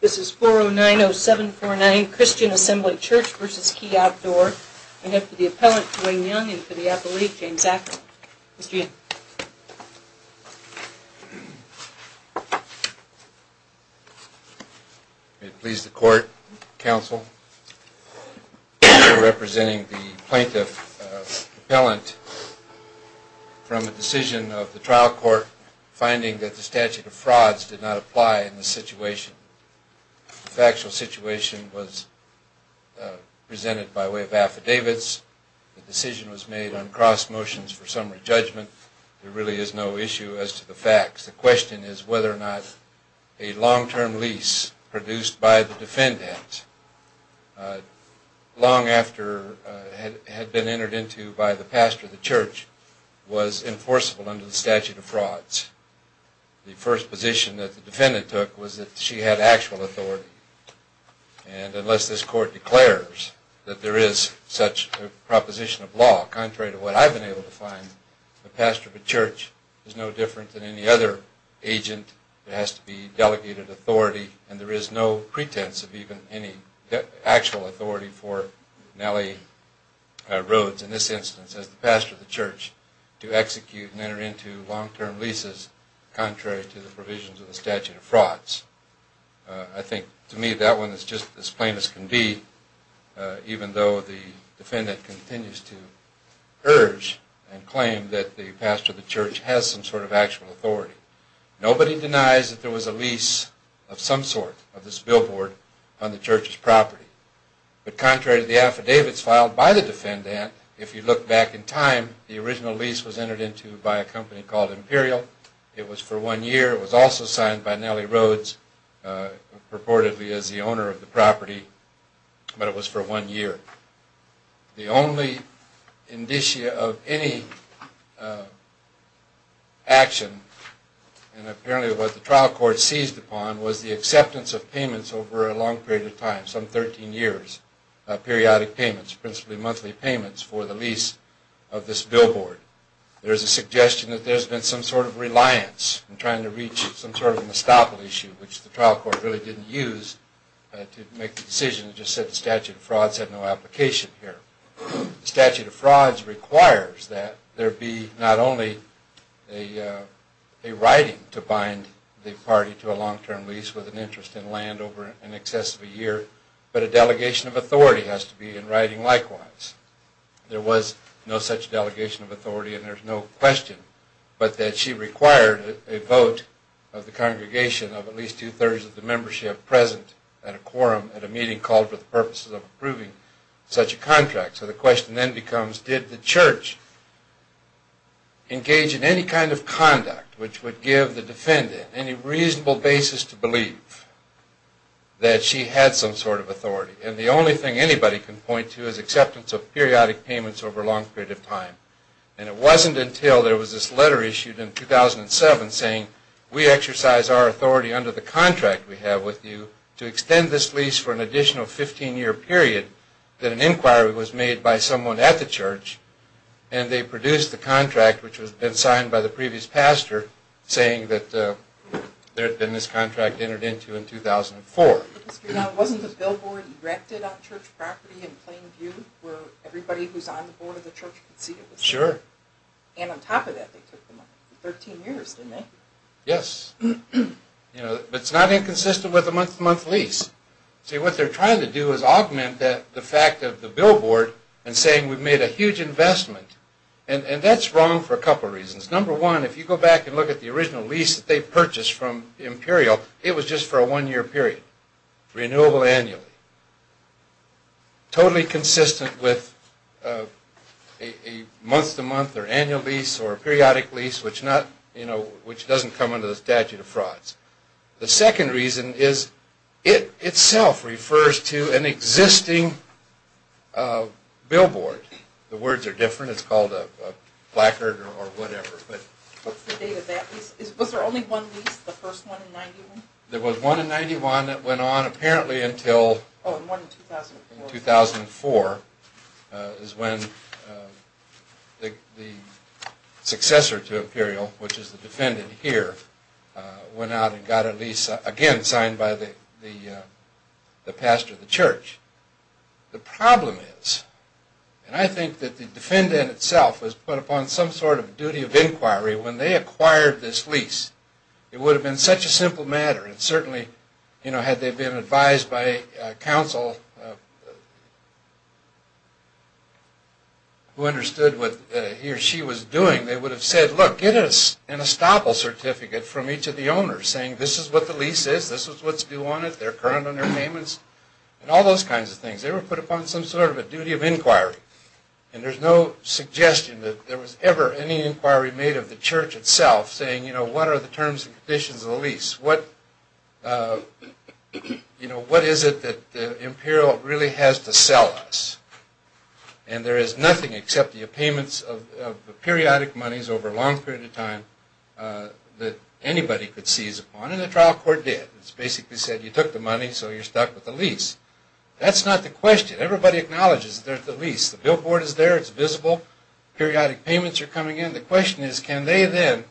This is 4090749 Christian Assembly Church v. Key Outdoor. I'm here for the Appellant Wayne Young and for the Appellate James Ackerman. May it please the Court, Counsel. I'm here representing the Plaintiff Appellant from a decision of the trial court finding that the statute of frauds did not apply in this situation. The factual situation was presented by way of affidavits. The decision was made on cross motions for summary judgment. There really is no issue as to the facts. The question is whether or not a long-term lease produced by the defendant long after had been entered into by the pastor of the church was enforceable under the statute of frauds. The first position that the defendant took was that she had actual authority. And unless this Court declares that there is such a proposition of law, contrary to what I've been able to find, the pastor of a church is no different than any other agent. There has to be delegated authority and there is no pretense of even any actual authority for Nellie Rhodes in this instance as the pastor of the church to execute and enter into long-term leases contrary to the provisions of the statute of frauds. I think to me that one is just as plain as can be, even though the defendant continues to urge and claim that the pastor of the church has some sort of actual authority. Nobody denies that there was a lease of some sort of this billboard on the church's property. But contrary to the affidavits filed by the defendant, if you look back in time, the original lease was entered into by a company called Imperial. It was for one year. It was also signed by Nellie Rhodes purportedly as the owner of the property, but it was for one year. The only indicia of any action, and apparently what the trial court seized upon, was the acceptance of payments over a long period of time, some 13 years, periodic payments, principally monthly payments for the lease of this billboard. There is a suggestion that there has been some sort of reliance in trying to reach some sort of an estoppel issue, which the trial court really didn't use to make the decision. It just said the statute of frauds had no application here. The statute of frauds requires that there be not only a writing to bind the party to a long-term lease with an interest in land over in excess of a year, but a delegation of authority has to be in writing likewise. There was no such delegation of authority, and there's no question, but that she required a vote of the congregation of at least two-thirds of the membership present at a quorum at a meeting called for the purposes of approving such a contract. So the question then becomes, did the church engage in any kind of conduct which would give the defendant any reasonable basis to believe that she had some sort of authority? And the only thing anybody can point to is acceptance of periodic payments over a long period of time. And it wasn't until there was this letter issued in 2007 saying, we exercise our authority under the contract we have with you to extend this lease for an additional 15-year period that an inquiry was made by someone at the church, and they produced the contract, which had been signed by the previous pastor, saying that there had been this contract entered into in 2004. Wasn't the billboard erected on church property in plain view where everybody who's on the board of the church could see it? Sure. And on top of that, they took the money. 13 years, didn't they? Yes. But it's not inconsistent with a month-to-month lease. See, what they're trying to do is augment the fact of the billboard and saying we've made a huge investment. And that's wrong for a couple reasons. Number one, if you go back and look at the original lease that they purchased from Imperial, it was just for a one-year period. Renewable annually. Totally consistent with a month-to-month or annual lease or a periodic lease, which doesn't come under the statute of frauds. The second reason is it itself refers to an existing billboard. The words are different. It's called a placard or whatever. What's the date of that lease? Was there only one lease, the first one in 91? There was one in 91 that went on apparently until 2004 is when the successor to Imperial, which is the defendant here, went out and got a lease, again, signed by the pastor of the church. The problem is, and I think that the defendant itself was put upon some sort of duty of inquiry when they acquired this lease. It would have been such a simple matter. And certainly, you know, had they been advised by counsel who understood what he or she was doing, they would have said, look, get us an estoppel certificate from each of the owners, saying this is what the lease is, this is what's due on it, their current underpayments. And all those kinds of things. They were put upon some sort of a duty of inquiry. And there's no suggestion that there was ever any inquiry made of the church itself saying, you know, what are the terms and conditions of the lease? What is it that Imperial really has to sell us? And there is nothing except the payments of the periodic monies over a long period of time that anybody could seize upon. And the trial court did. It basically said you took the money, so you're stuck with the lease. That's not the question. Everybody acknowledges that there's the lease. The billboard is there, it's visible. Periodic payments are coming in. The question is, can they then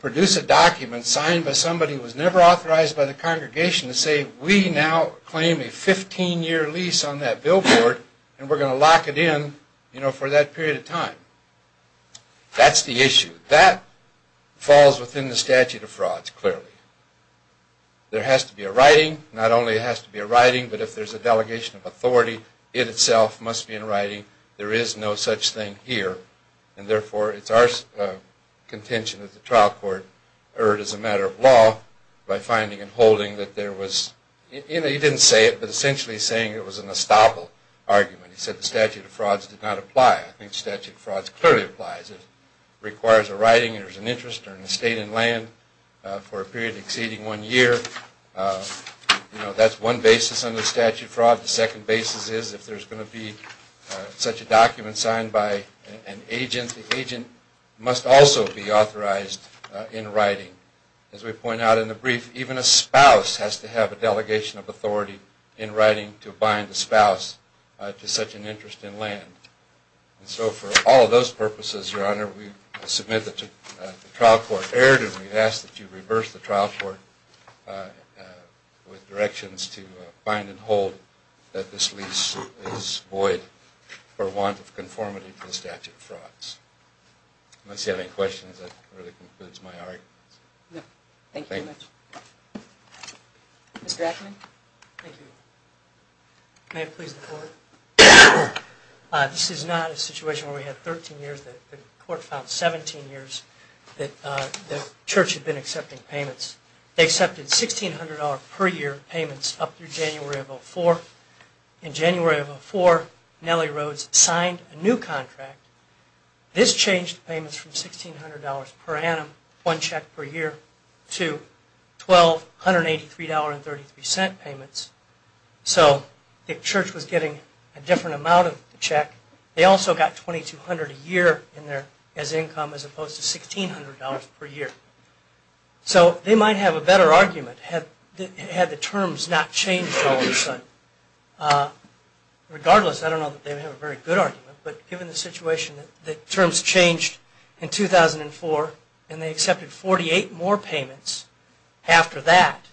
produce a document signed by somebody who was never authorized by the congregation to say we now claim a 15-year lease on that billboard and we're going to lock it in, you know, for that period of time? That's the issue. That falls within the statute of frauds, clearly. There has to be a writing. Not only has to be a writing, but if there's a delegation of authority, it itself must be in writing. There is no such thing here. And therefore, it's our contention that the trial court erred as a matter of law by finding and holding that there was, you know, he didn't say it, but essentially saying it was an estoppel argument. He said the statute of frauds did not apply. I think statute of frauds clearly applies. It requires a writing, there's an interest or an estate in land for a period exceeding one year. You know, that's one basis under statute of fraud. The second basis is if there's going to be such a document signed by an agent, the agent must also be authorized in writing. As we point out in the brief, even a spouse has to have a delegation of authority in writing to bind the spouse to such an interest in land. And so for all of those purposes, Your Honor, we submit that the trial court erred, and we ask that you reverse the trial court with directions to find and hold that this lease is void for want of conformity to the statute of frauds. Unless you have any questions, that really concludes my argument. Thank you very much. Mr. Ackerman? Thank you. May it please the Court? This is not a situation where we have 13 years. The Court found 17 years that the Church had been accepting payments. They accepted $1,600 per year payments up through January of 2004. In January of 2004, Nellie Rhodes signed a new contract. This changed payments from $1,600 per annum, one check per year, to $1,283.33 payments. So the Church was getting a different amount of the check. They also got $2,200 a year as income as opposed to $1,600 per year. So they might have a better argument had the terms not changed all of a sudden. Regardless, I don't know that they would have a very good argument, but given the situation that terms changed in 2004 and they accepted 48 more payments after that,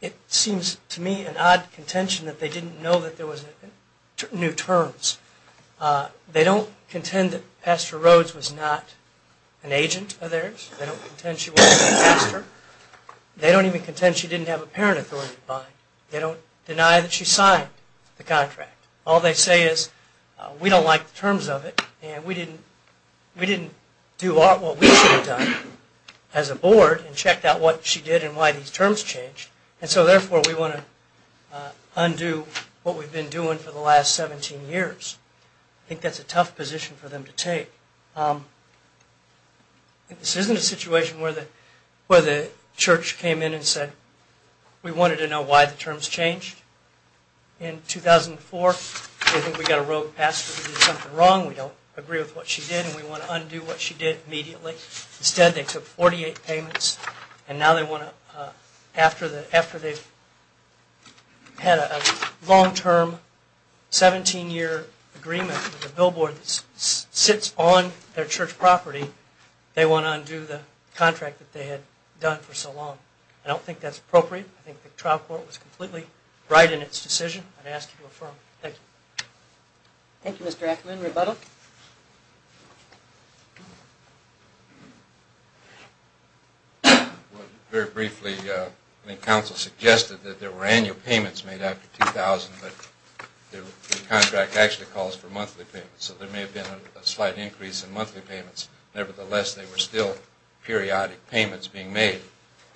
it seems to me an odd contention that they didn't know that there were new terms. They don't contend that Pastor Rhodes was not an agent of theirs. They don't contend she wasn't a pastor. They don't even contend she didn't have a parent authority to buy. They don't deny that she signed the contract. All they say is, we don't like the terms of it, and we didn't do what we should have done as a board and checked out what she did and why these terms changed, and so therefore we want to undo what we've been doing for the last 17 years. I think that's a tough position for them to take. This isn't a situation where the church came in and said, we wanted to know why the terms changed in 2004. We think we've got a rogue pastor who did something wrong. We don't agree with what she did, and we want to undo what she did immediately. Instead, they took 48 payments, and now they want to, after they've had a long-term 17-year agreement with the billboard that sits on their church property, they want to undo the contract that they had done for so long. I don't think that's appropriate. I think the trial court was completely right in its decision. I'd ask you to affirm. Thank you. Thank you, Mr. Ackerman. Rebuttal? Very briefly, the council suggested that there were annual payments made after 2000, but the contract actually calls for monthly payments, so there may have been a slight increase in monthly payments. Nevertheless, there were still periodic payments being made,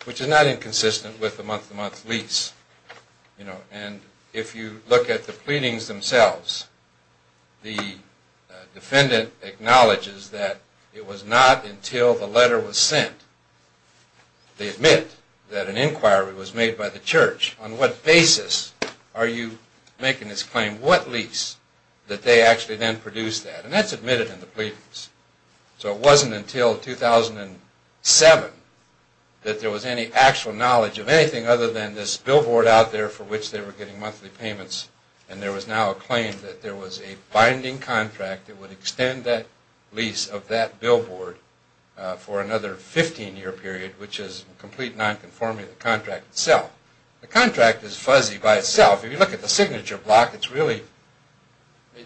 which is not inconsistent with the month-to-month lease. And if you look at the pleadings themselves, the defendant acknowledges that it was not until the letter was sent, they admit that an inquiry was made by the church. On what basis are you making this claim? What lease did they actually then produce that? And that's admitted in the pleadings. So it wasn't until 2007 that there was any actual knowledge of anything other than this billboard out there for which they were getting monthly payments, and there was now a claim that there was a binding contract that would extend that lease of that billboard for another 15-year period, which is in complete nonconformity with the contract itself. The contract is fuzzy by itself. If you look at the signature block, it's really,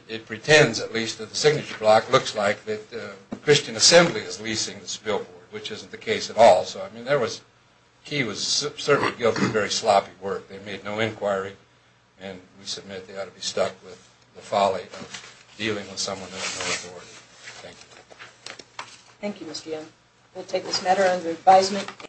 it pretends at least, that the signature block looks like the Christian Assembly is leasing this billboard, which isn't the case at all. So, I mean, there was, he was certainly guilty of very sloppy work. They made no inquiry, and we submit they ought to be stuck with the folly of dealing with someone who has no authority. Thank you. Thank you, Mr. Young. We'll take this matter under advisement.